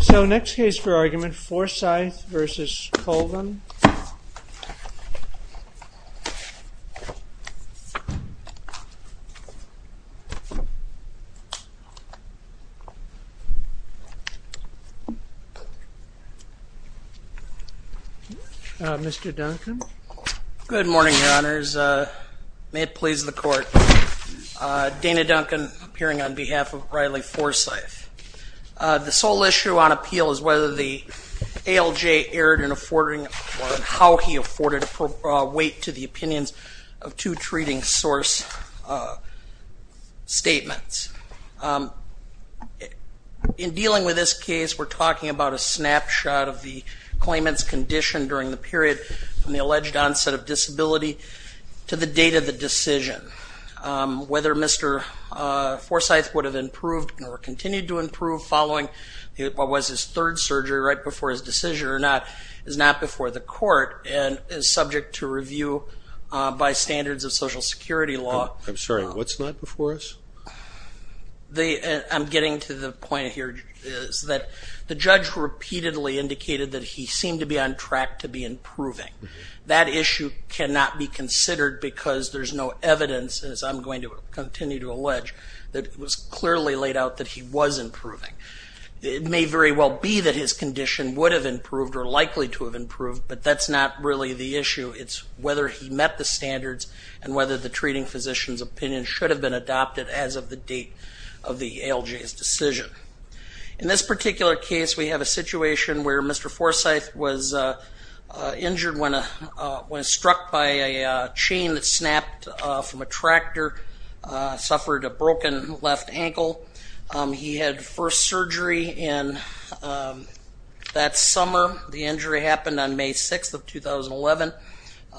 So next case for argument Forsythe v. Colvin, Mr. Duncan. Good morning your honors, may it please the court. Dana Duncan appearing on behalf of Riley Forsythe. The sole issue on appeal is whether the ALJ erred in affording or how he afforded weight to the opinions of two treating source statements. In dealing with this case we're talking about a snapshot of the claimant's condition during the period from the alleged onset of disability to the date of the decision. Whether Mr. Forsythe would have improved or continued to improve following what was his third surgery right before his decision or not is not before the court and is subject to review by standards of Social Security law. I'm sorry what's not before us? I'm getting to the point here is that the judge repeatedly indicated that he seemed to be on track to be improving. That issue cannot be considered because there's no evidence as I'm going to continue to allege that it was clearly laid out that he was improving. It may very well be that his condition would have improved or likely to have improved but that's not really the issue it's whether he met the standards and whether the treating physician's opinion should have been adopted as of the date of the ALJ's decision. In this particular case we have a situation where Mr. Forsythe was injured when struck by a chain that snapped from a tractor, suffered a broken left ankle. He had first surgery in that summer. The injury happened on May 6th of 2011.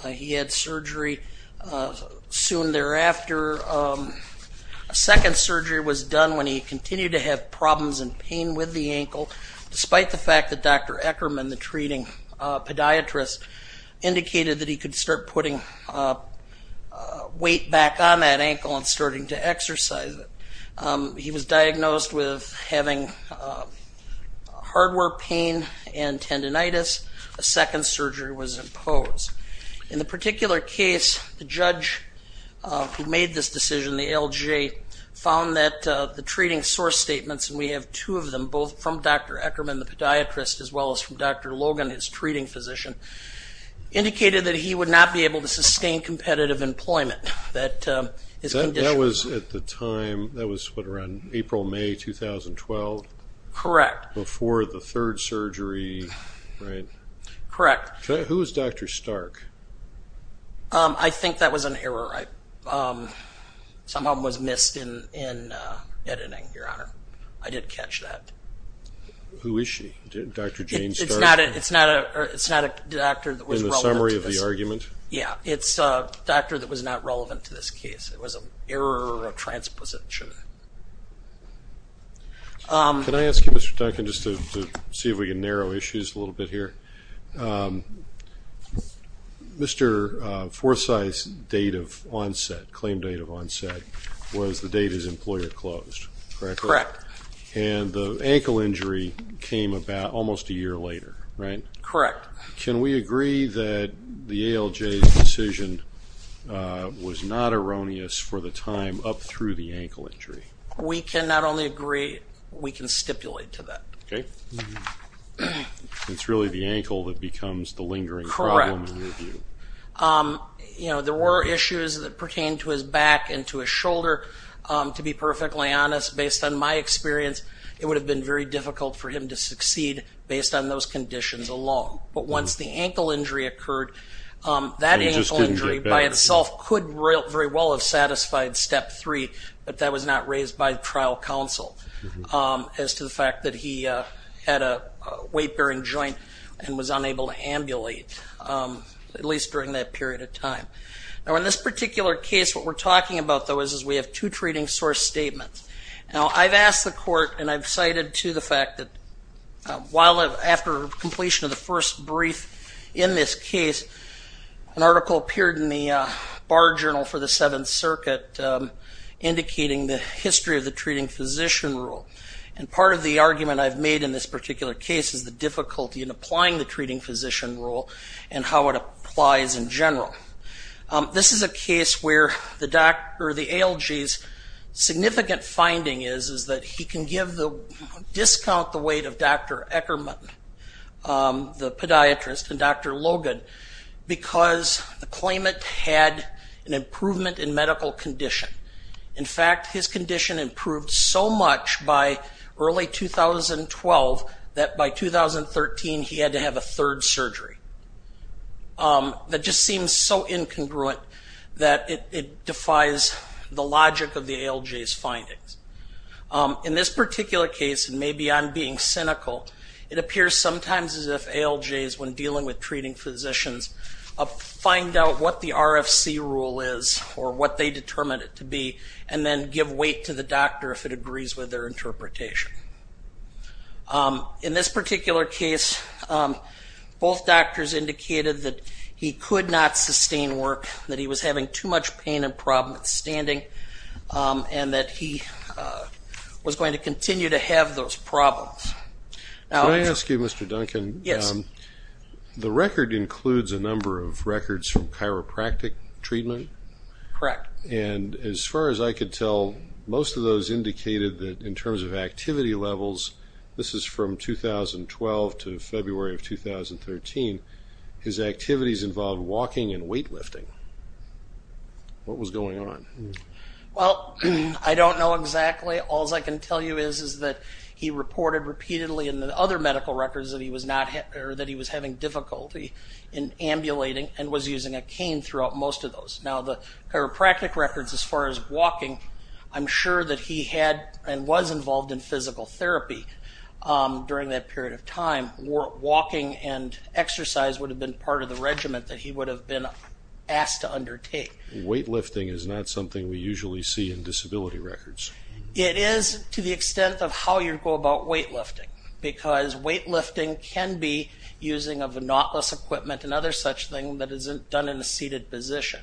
He had surgery soon thereafter. A second surgery was done when he continued to have problems and pain with the ankle despite the fact that Dr. Eckerman, the treating podiatrist, indicated that he could start putting weight back on that ankle and starting to exercise it. He was diagnosed with having hardware pain and tendonitis. A second surgery was imposed. In the particular case the judge who made this decision, the ALJ, found that the treating source statements, and we have two of them, both from Dr. Eckerman, the podiatrist, as well as from Dr. Logan, his treating physician, indicated that he would not be able to sustain competitive employment. That was at the time, that was what around April, May 2012? Correct. Before the third surgery, right? Correct. Who was Dr. Stark? I think that was an editing, Your Honor. I did catch that. Who is she? Dr. Jane Stark? It's not a doctor that was relevant to this. In the summary of the argument? Yeah, it's a doctor that was not relevant to this case. It was an error or a transposition. Can I ask you, Mr. Duncan, just to see if we can narrow issues a little bit here? Mr. Forsythe's date of surgery had closed, correct? Correct. And the ankle injury came about almost a year later, right? Correct. Can we agree that the ALJ's decision was not erroneous for the time up through the ankle injury? We can not only agree, we can stipulate to that. Okay. It's really the ankle that becomes the lingering problem in your view? Correct. You know, there were issues that pertain to his back and to his shoulder. To be perfectly honest, based on my experience, it would have been very difficult for him to succeed based on those conditions alone. But once the ankle injury occurred, that ankle injury by itself could very well have satisfied Step 3, but that was not raised by trial counsel as to the fact that he had a weight-bearing joint and was unable to ambulate, at least during that period of time. In this particular case, what we're talking about, though, is we have two treating source statements. Now, I've asked the court and I've cited to the fact that while after completion of the first brief in this case, an article appeared in the Bar Journal for the Seventh Circuit indicating the history of the treating physician rule. And part of the argument I've made in this particular case is the difficulty in applying the treating physician rule and how it applies in general. This is a case where the ALG's significant finding is that he can discount the weight of Dr. Eckermann, the podiatrist, and Dr. Logan because the claimant had an improvement in medical condition. In fact, his condition improved so much by early 2012 that by 2013 he had to have a third surgery. That just seems so incongruent that it defies the logic of the ALG's findings. In this particular case, and maybe I'm being cynical, it appears sometimes as if ALG's, when dealing with treating physicians, find out what the RFC rule is or what they determined it to be and then give weight to the doctor if it agrees with their interpretation. In this particular case, both doctors indicated that he could not sustain work, that he was having too much pain and problem with standing, and that he was going to continue to have those problems. Can I ask you, Mr. Duncan? Yes. The record includes a number of records from chiropractic treatment. Correct. And as far as I could tell, most of those indicated that in terms of activity levels, this is from 2012 to February of 2013, his activities involved walking and weightlifting. What was going on? Well, I don't know exactly. All I can tell you is that he reported repeatedly in the other medical records that he was having difficulty in ambulating and was using a cane throughout most of those. Now the chiropractic records, as far as walking, I'm sure that he had and was involved in and exercise would have been part of the regimen that he would have been asked to undertake. Weightlifting is not something we usually see in disability records. It is to the extent of how you go about weightlifting, because weightlifting can be using of a knotless equipment and other such thing that isn't done in a seated position.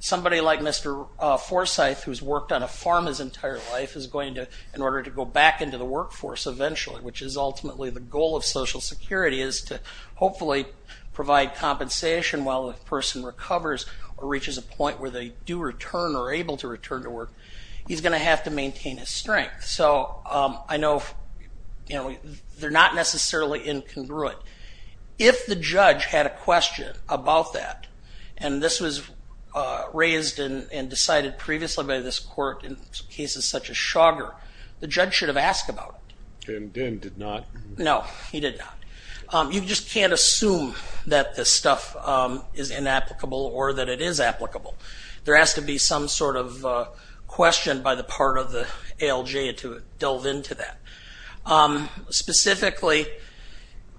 Somebody like Mr. Forsyth, who's worked on a farm his entire life, is going to, in order to go back into the workforce eventually, which is ultimately the goal of Social Security, is to hopefully provide compensation while the person recovers or reaches a point where they do return or able to return to work, he's going to have to maintain his strength. So I know they're not necessarily incongruent. If the judge had a question about that, and this was raised and decided previously by this court in cases such as Shoggar, the judge should have asked about it. And Dinn did not. No, he did not. You just can't assume that this stuff is inapplicable or that it is applicable. There has to be some sort of question by the part of the ALJ to delve into that. Specifically,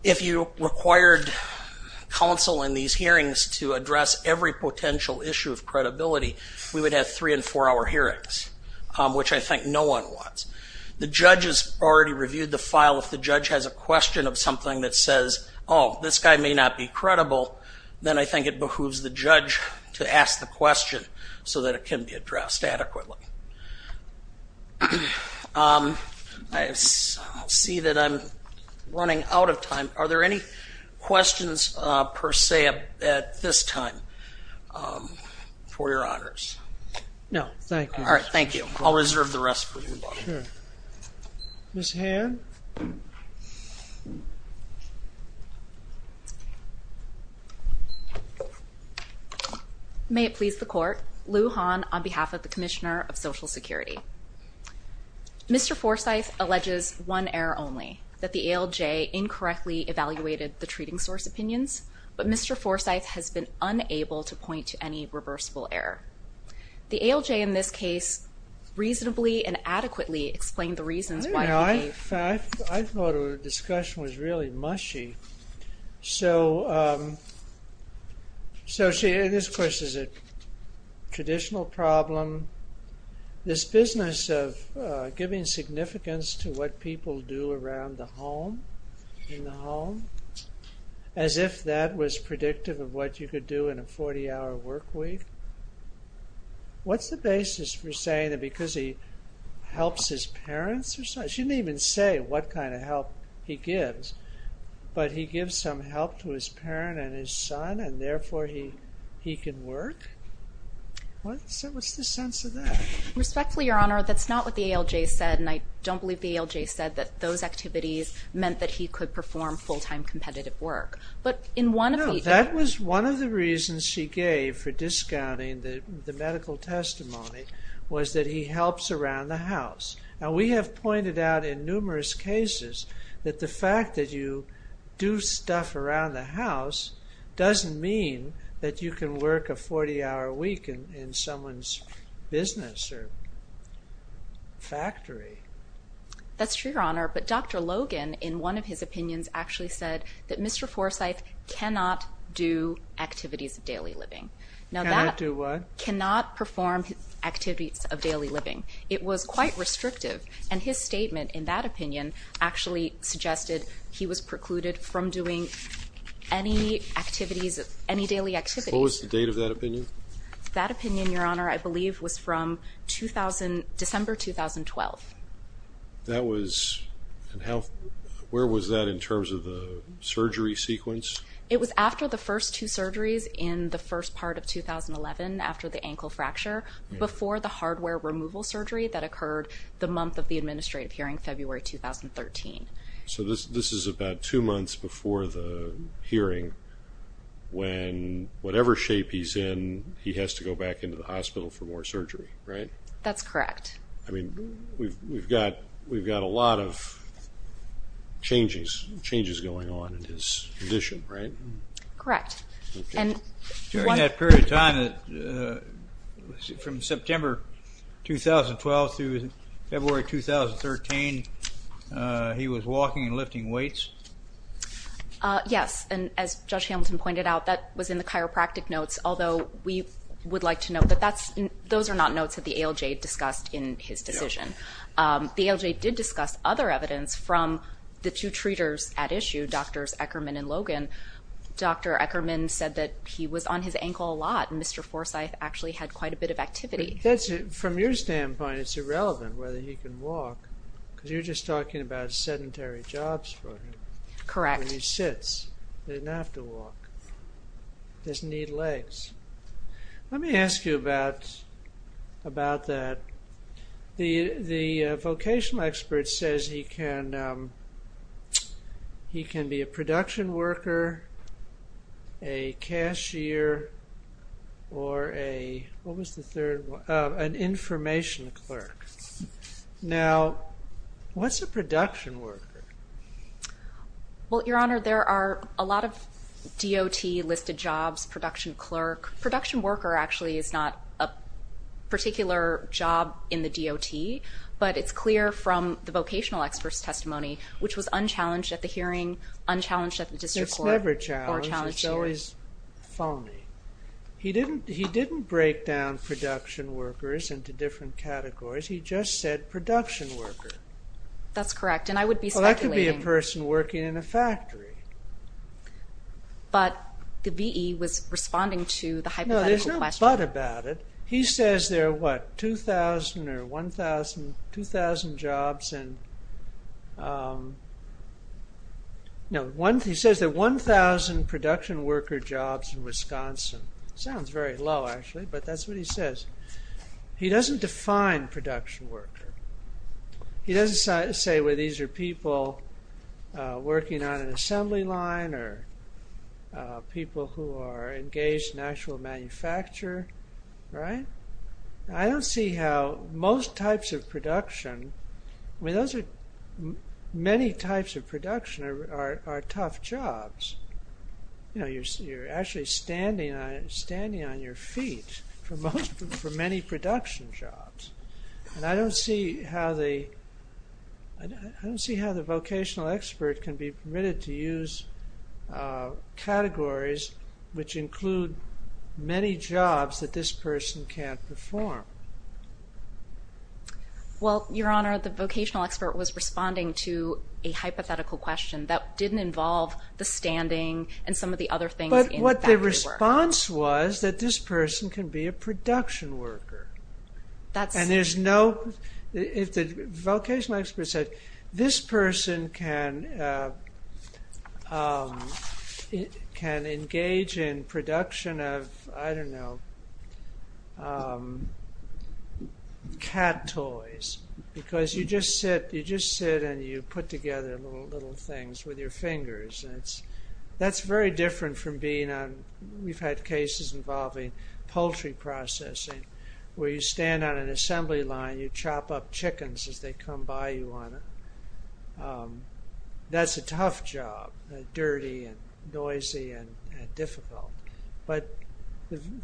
if you required counsel in these hearings to address every potential issue of credibility, we would have three and four hour hearings, which I think no one wants. The judge has already reviewed the file. If the judge has a question of something that says, oh, this guy may not be credible, then I think it behooves the judge to ask the question so that it can be addressed adequately. I see that I'm running out of time. Are there any questions per se at this time, for your honors? No, thank you. All right, thank you. I'll reserve the rest for you, Bob. Ms. Han. May it please the court, Lou Han on behalf of the Commissioner of Social Justice. The ALJ has not directly evaluated the treating source opinions, but Mr. Forsyth has been unable to point to any reversible error. The ALJ in this case reasonably and adequately explained the reasons why. I thought our discussion was really mushy. So, see, this question is a traditional problem. This business of giving significance to what people do around the home, in the home, as if that was predictive of what you could do in a 40-hour workweek. What's the basis for saying that because he helps his parents or something, he shouldn't even say what kind of help he gives, but he gives some help to his parent and his son and therefore he he can work? What's the sense of that? Respectfully, Your Honor, that's not what the ALJ said and I don't believe the ALJ said that those activities meant that he could perform full-time competitive work. But in one of the... No, that was one of the reasons she gave for discounting the medical testimony was that he helps around the house. Now, we have pointed out in numerous cases that the fact that you do stuff around the house doesn't mean that you can work a 40-hour week in someone's business or factory. That's true, Your Honor, but Dr. Logan, in one of his opinions, actually said that Mr. Forsyth cannot do activities of daily living. Now, that... Cannot do what? Cannot perform activities of daily living. It was quite restrictive and his statement in that opinion actually suggested he was precluded from doing any activities, any daily activities. What was the date of that opinion? That opinion, Your Honor, I believe was from 2000... December 2012. That was... And how... Where was that in terms of the surgery sequence? It was after the first two surgeries in the first part of 2011, after the ankle fracture, before the hardware removal surgery that occurred the month of the administrative hearing, February 2013. So this is about two months before the hearing when, whatever shape he's in, he has to go back into the hospital for more surgery, right? That's correct. I mean, we've got a lot of changes going on in his condition, right? Correct. And... During that period of time, from September 2012 through February 2013, he was walking and lifting weights? Yes, and as Judge Hamilton pointed out, that was in the chiropractic notes, although we would like to note that that's... Those are not notes that the ALJ discussed in his decision. The ALJ did discuss other Dr. Eckerman said that he was on his ankle a lot, and Mr. Forsythe actually had quite a bit of activity. That's... From your standpoint, it's irrelevant whether he can walk, because you're just talking about sedentary jobs for him. Correct. When he sits. He doesn't have to walk. He doesn't need legs. Let me ask you about that. The vocational expert says he can be a production worker, a cashier, or a... What was the third one? An information clerk. Now, what's a production worker? Well, Your Honor, there are a lot of DOT listed jobs, production clerk. Production worker actually is not a particular job in the DOT, but it's clear from the vocational expert's testimony, which was unchallenged at the hearing, unchallenged at the district court, or challenged here. It's never challenged. It's always phony. He didn't break down production workers into different categories. He just said production worker. That's correct, and I would be speculating... Well, that could be a person working in a factory. But the V.E. was responding to the hypothetical question. No, there's no but about it. He says there are what, 2,000 or 1,000, 2,000 jobs. He says there are 1,000 production worker jobs in Wisconsin. Sounds very low, actually, but that's what he says. He doesn't define production worker. He doesn't say, well, these are people working on an assembly line, or people who are engaged in actual manufacture. Right? I don't see how most types of production... I mean, those are many types of production are tough jobs. You know, you're actually standing on your feet for many production jobs, and I don't see how the vocational expert can be permitted to use categories which include many jobs that this person can't perform. Well, Your Honor, the vocational expert was responding to a hypothetical question that didn't involve the standing and some of the other things in factory work. But what the response was that this person can be a production worker, and there's no... Vocational expert said this person can engage in production of, I don't know, cat toys, because you just sit and you put together little things with your fingers. That's very different from being on... We've had cases involving poultry processing, where you stand on an assembly line, you chop up chickens as they come by, Your Honor. That's a tough job, dirty and noisy and difficult. But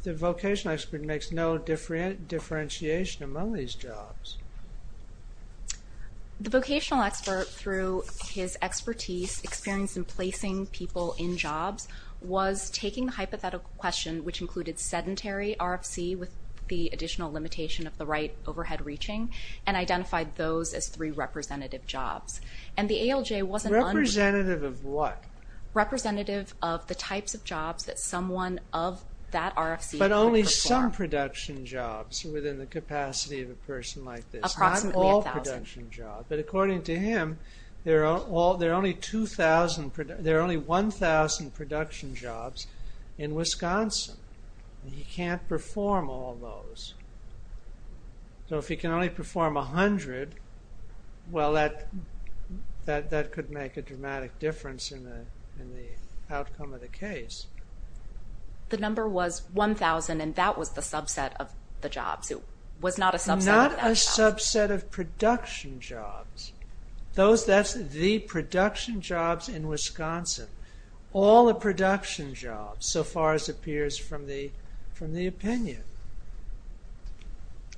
the vocational expert makes no differentiation among these jobs. The vocational expert, through his expertise, experience in placing people in jobs, was taking the hypothetical question, which included sedentary RFC with the additional limitation of the right overhead reaching, and identified those as three representative jobs. And the ALJ wasn't... Representative of what? Representative of the types of jobs that someone of that RFC could perform. But only some production jobs within the capacity of a person like this. Approximately a thousand. Not all production jobs. But according to him, there are only 1,000 production jobs in Wisconsin. He can't perform all those. So if he can only perform a hundred, well, that could make a dramatic difference in the outcome of the case. The number was 1,000, and that was the subset of the jobs. It was not a subset of... Not a subset of production jobs. Those, that's the production jobs in Wisconsin. All the production jobs, so far as appears from the opinion.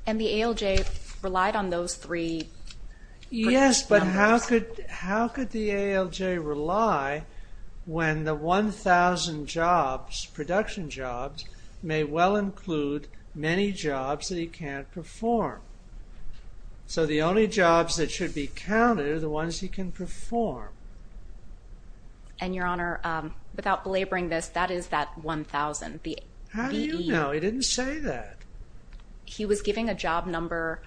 And the ALJ relied on those three... Yes, but how could the ALJ rely when the 1,000 jobs, production jobs, may well include many jobs that he can't perform? So the only jobs that should be counted are the ones he can perform. And Your Honor, without belaboring this, that is that 1,000. How do you know? He didn't say that. He was giving a job number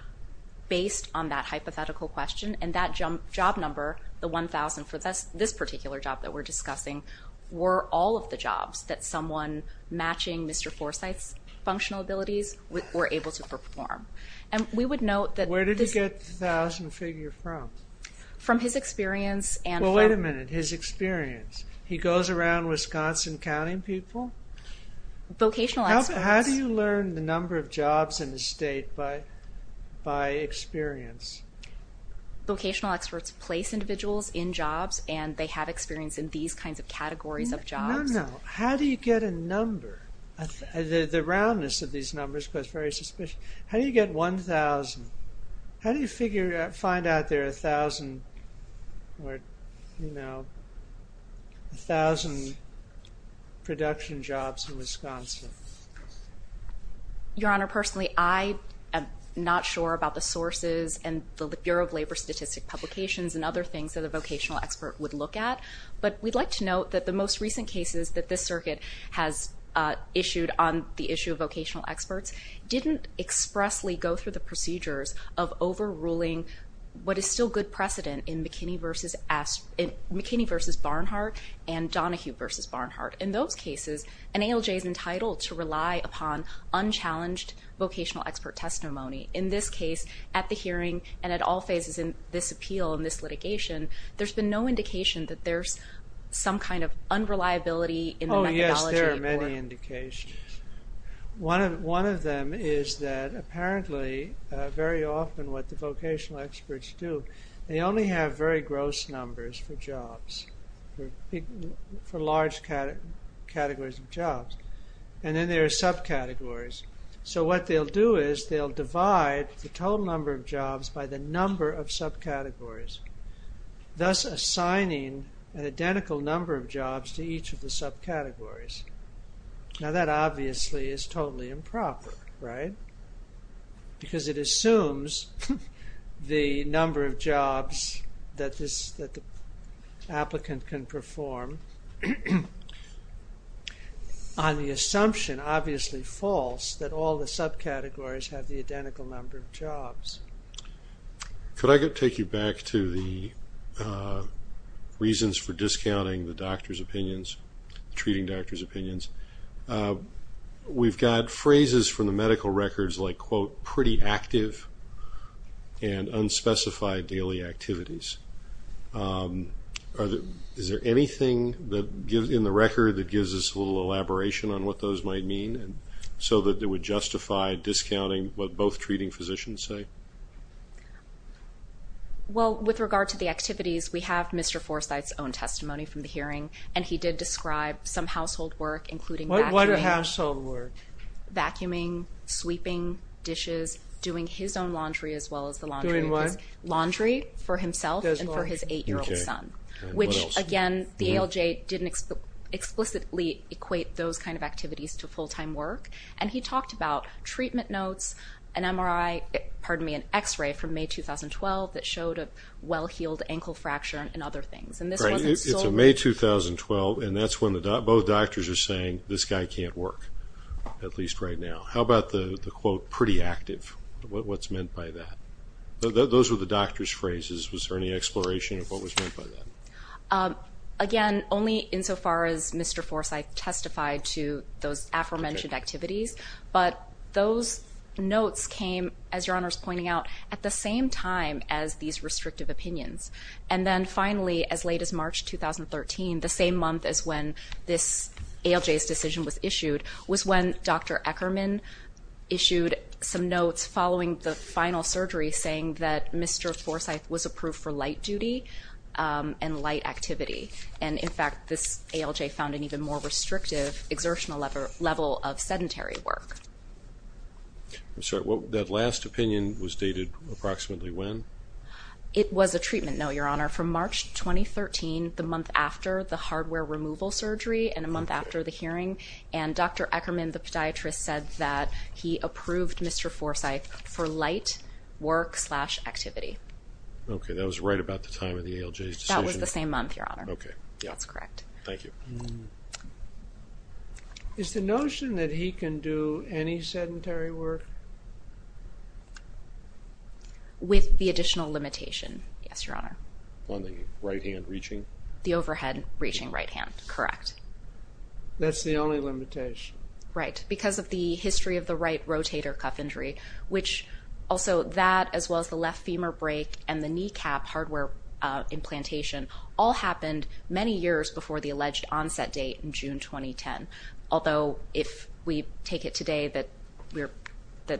based on that hypothetical question, and that job number, the 1,000 for this particular job that we're discussing, were all of the jobs that someone matching Mr. Forsythe's functional abilities were able to perform. And we would note that... Where did he get the 1,000 figure from? From his experience and from... Well, wait a minute. His experience. He goes around Wisconsin counting people? Vocational experts. How do you learn the number of jobs in the state by experience? Vocational experts place individuals in jobs, and they have experience in these kinds of categories of jobs. No, no. How do you get a number? The roundness of these numbers is very suspicious. How do you get 1,000? How do you find out there are 1,000 production jobs in Wisconsin? Your Honor, personally, I am not sure about the sources and the Bureau of Labor Statistic Publications and other things that a vocational expert would look at. But we'd like to note that the most recent cases that this circuit has issued on the issue of vocational experts didn't expressly go through the procedures of overruling what is still good precedent in McKinney v. Barnhart and Donohue v. Barnhart. In those cases, an ALJ is entitled to rely upon unchallenged vocational expert testimony. In this case, at the hearing, and at all phases in this appeal and this litigation, there's been no indication that there's some kind of unreliability in the methodology. Oh, yes, there are many indications. One of them is that apparently, very often what the vocational experts do, they only have very gross numbers for jobs, for large categories of jobs. And then there are subcategories. So, what they'll do is they'll divide the total number of jobs by the number of subcategories, thus assigning an identical number of jobs to each of the subcategories. Now, that obviously is totally improper, right? Because it assumes the number of jobs that the applicant can perform. On the assumption, obviously false, that all the subcategories have the identical number of jobs. Could I take you back to the reasons for discounting the doctor's opinions, treating doctor's opinions? We've got phrases from the medical records like, quote, pretty active and unspecified daily activities. Is there anything in the record that gives us a little elaboration on what those might mean, so that it would justify discounting what both treating physicians say? Well, with regard to the activities, we have Mr. Forsythe's own testimony from the hearing, and he did describe some household work, including vacuuming, sweeping dishes, doing his own laundry as well as the laundry of his... Doing what? ...and for his eight-year-old son. Okay. And what else? Which, again, the ALJ didn't explicitly equate those kind of activities to full-time work. And he talked about treatment notes, an MRI, pardon me, an X-ray from May 2012 that showed a well-healed ankle fracture and other things. And this wasn't solely... Right. It's in May 2012, and that's when both doctors are saying, this guy can't work, at least right now. How about the quote, pretty active? What's meant by that? Those were the doctor's phrases. Was there any exploration of what was meant by that? Again, only insofar as Mr. Forsythe testified to those aforementioned activities. But those notes came, as Your Honor's pointing out, at the same time as these restrictive opinions. And then finally, as late as March 2013, the same month as when this ALJ's decision was issued, was when Dr. Eckerman issued some notes following the final surgery saying that Mr. Forsythe was approved for light duty and light activity. And, in fact, this ALJ found an even more restrictive exertional level of sedentary work. I'm sorry, that last opinion was dated approximately when? It was a treatment note, Your Honor, from March 2013, the month after the hardware removal surgery and a month after the hearing. And Dr. Eckerman, the podiatrist, said that he approved Mr. Forsythe for light work slash activity. Okay, that was right about the time of the ALJ's decision? That was the same month, Your Honor. Okay, yeah. That's correct. Thank you. Is the notion that he can do any sedentary work? With the additional limitation, yes, Your Honor. On the right hand reaching? The overhead reaching right hand, correct. That's the only limitation? Right, because of the history of the right rotator cuff injury, which also that, as well as the left femur break and the kneecap hardware implantation, all happened many years before the alleged onset date in June 2010. Although, if we take it today that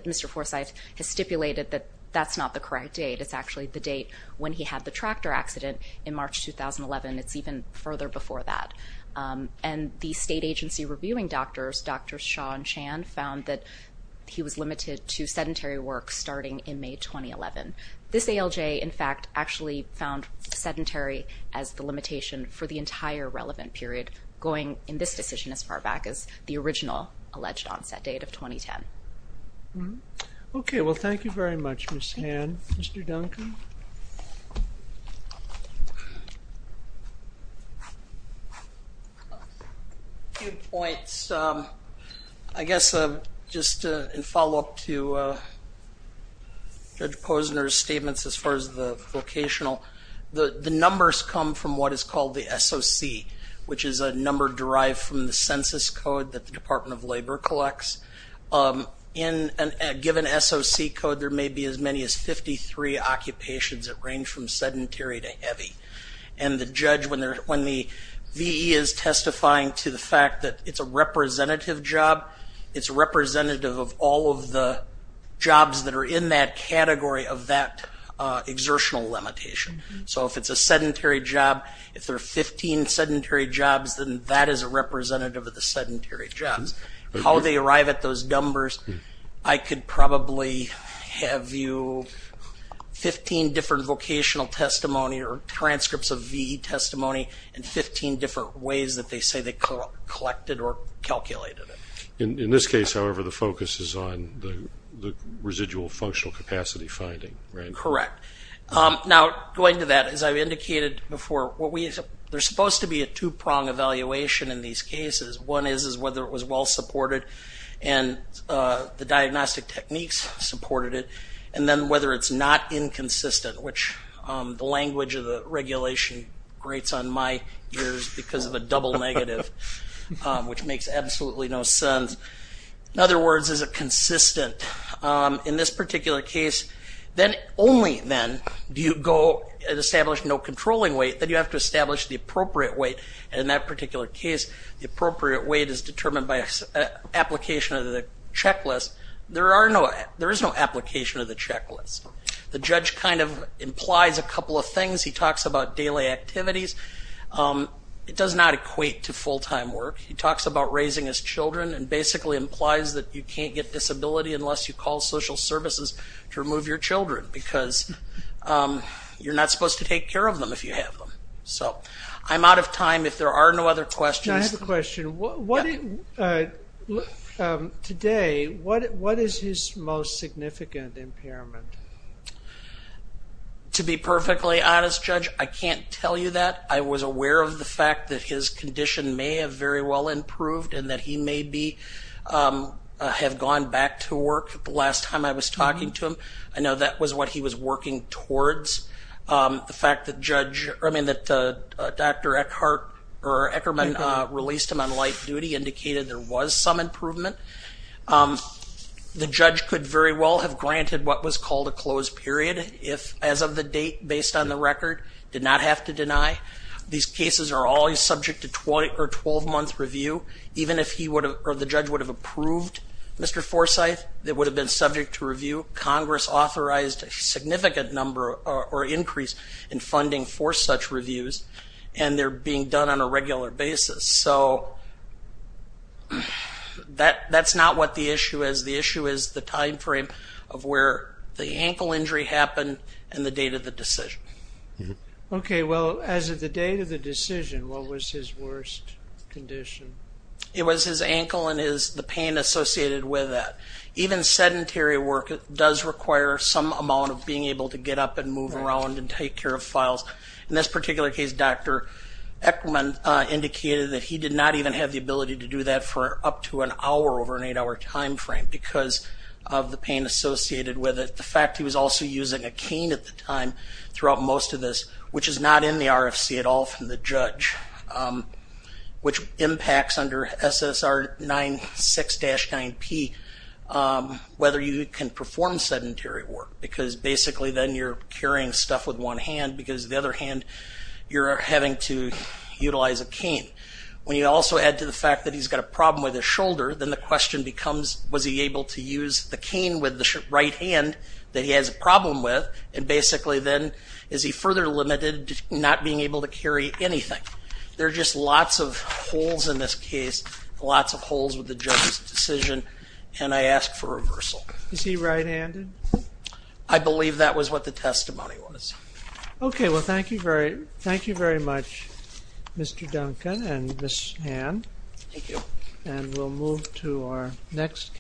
Mr. Forsythe has stipulated that that's not the correct date, it's actually the date when he had the tractor accident in March 2011. It's even further before that. And the state agency reviewing doctors, Drs. Shaw and Chan, found that he was limited to sedentary work starting in May 2011. This ALJ, in fact, actually found sedentary as the limitation for the entire relevant period, going in this decision as far back as the original alleged onset date of 2010. Okay, well thank you very much, Ms. Han. Mr. Duncan? A few points. I guess just in follow-up to Judge Posner's statements as far as the vocational, the numbers come from what is called the SOC, which is a number derived from the census code that the Department of Labor collects. In a given SOC code, there may be as many as 53 occupations that range from sedentary to heavy. And the judge, when the V.E. is testifying to the fact that it's a representative job, it's representative of all of the jobs that are in that category of that exertional limitation. So if it's a sedentary job, if there are 15 sedentary jobs, then that is a representative of the sedentary jobs. How they arrive at those numbers, I could probably have you 15 different vocational testimony or transcripts of V.E. testimony and 15 different ways that they say they collected or calculated it. In this case, however, the focus is on the residual functional capacity finding, right? Correct. Now, going to that, as I've indicated before, there's supposed to be a two-prong evaluation in these cases. One is whether it was well-supported and the diagnostic techniques supported it, and then whether it's not inconsistent, which the language of the regulation grates on my ears because of a double negative, which makes absolutely no sense. In other words, is it consistent? In this particular case, only then do you go and establish no controlling weight. Then you have to establish the appropriate weight. And in that particular case, the appropriate weight is determined by application of the checklist. There is no application of the checklist. The judge kind of implies a couple of things. He talks about daily activities. It does not equate to full-time work. He talks about raising his children and basically implies that you can't get disability unless you call social services to remove your children because you're not supposed to take care of them if you have them. So I'm out of time if there are no other questions. I have a question. Today, what is his most significant impairment? To be perfectly honest, Judge, I can't tell you that. I was aware of the fact that his condition may have very well improved and that he may have gone back to work the last time I was talking to him. I know that was what he was working towards. The fact that Dr. Eckerman released him on life duty indicated there was some improvement. The judge could very well have granted what was called a closed period if, as of the date based on the record, did not have to deny. These cases are always subject to 12-month review. Even if the judge would have approved Mr. Forsythe, it would have been subject to review. Congress authorized a significant number or increase in funding for such reviews, and they're being done on a regular basis. So that's not what the issue is. The issue is the time frame of where the ankle injury happened and the date of the decision. Okay, well, as of the date of the decision, what was his worst condition? It was his ankle and the pain associated with that. Even sedentary work does require some amount of being able to get up and move around and take care of files. In this particular case, Dr. Eckerman indicated that he did not even have the ability to do that for up to an hour over an eight-hour time frame because of the pain associated with it. The fact he was also using a cane at the time throughout most of this, which is not in the RFC at all from the judge, which impacts under SSR 96-9P whether you can perform sedentary work because basically then you're carrying stuff with one hand because the other hand you're having to utilize a cane. When you also add to the fact that he's got a problem with his shoulder, then the question becomes was he able to use the cane with the right hand that he has a problem with, and basically then is he further limited to not being able to carry anything. There are just lots of holes in this case, lots of holes with the judge's decision, and I ask for reversal. Is he right-handed? I believe that was what the testimony was. Okay. Well, thank you very much, Mr. Duncan and Ms. Han. Thank you. And we'll move to our next case.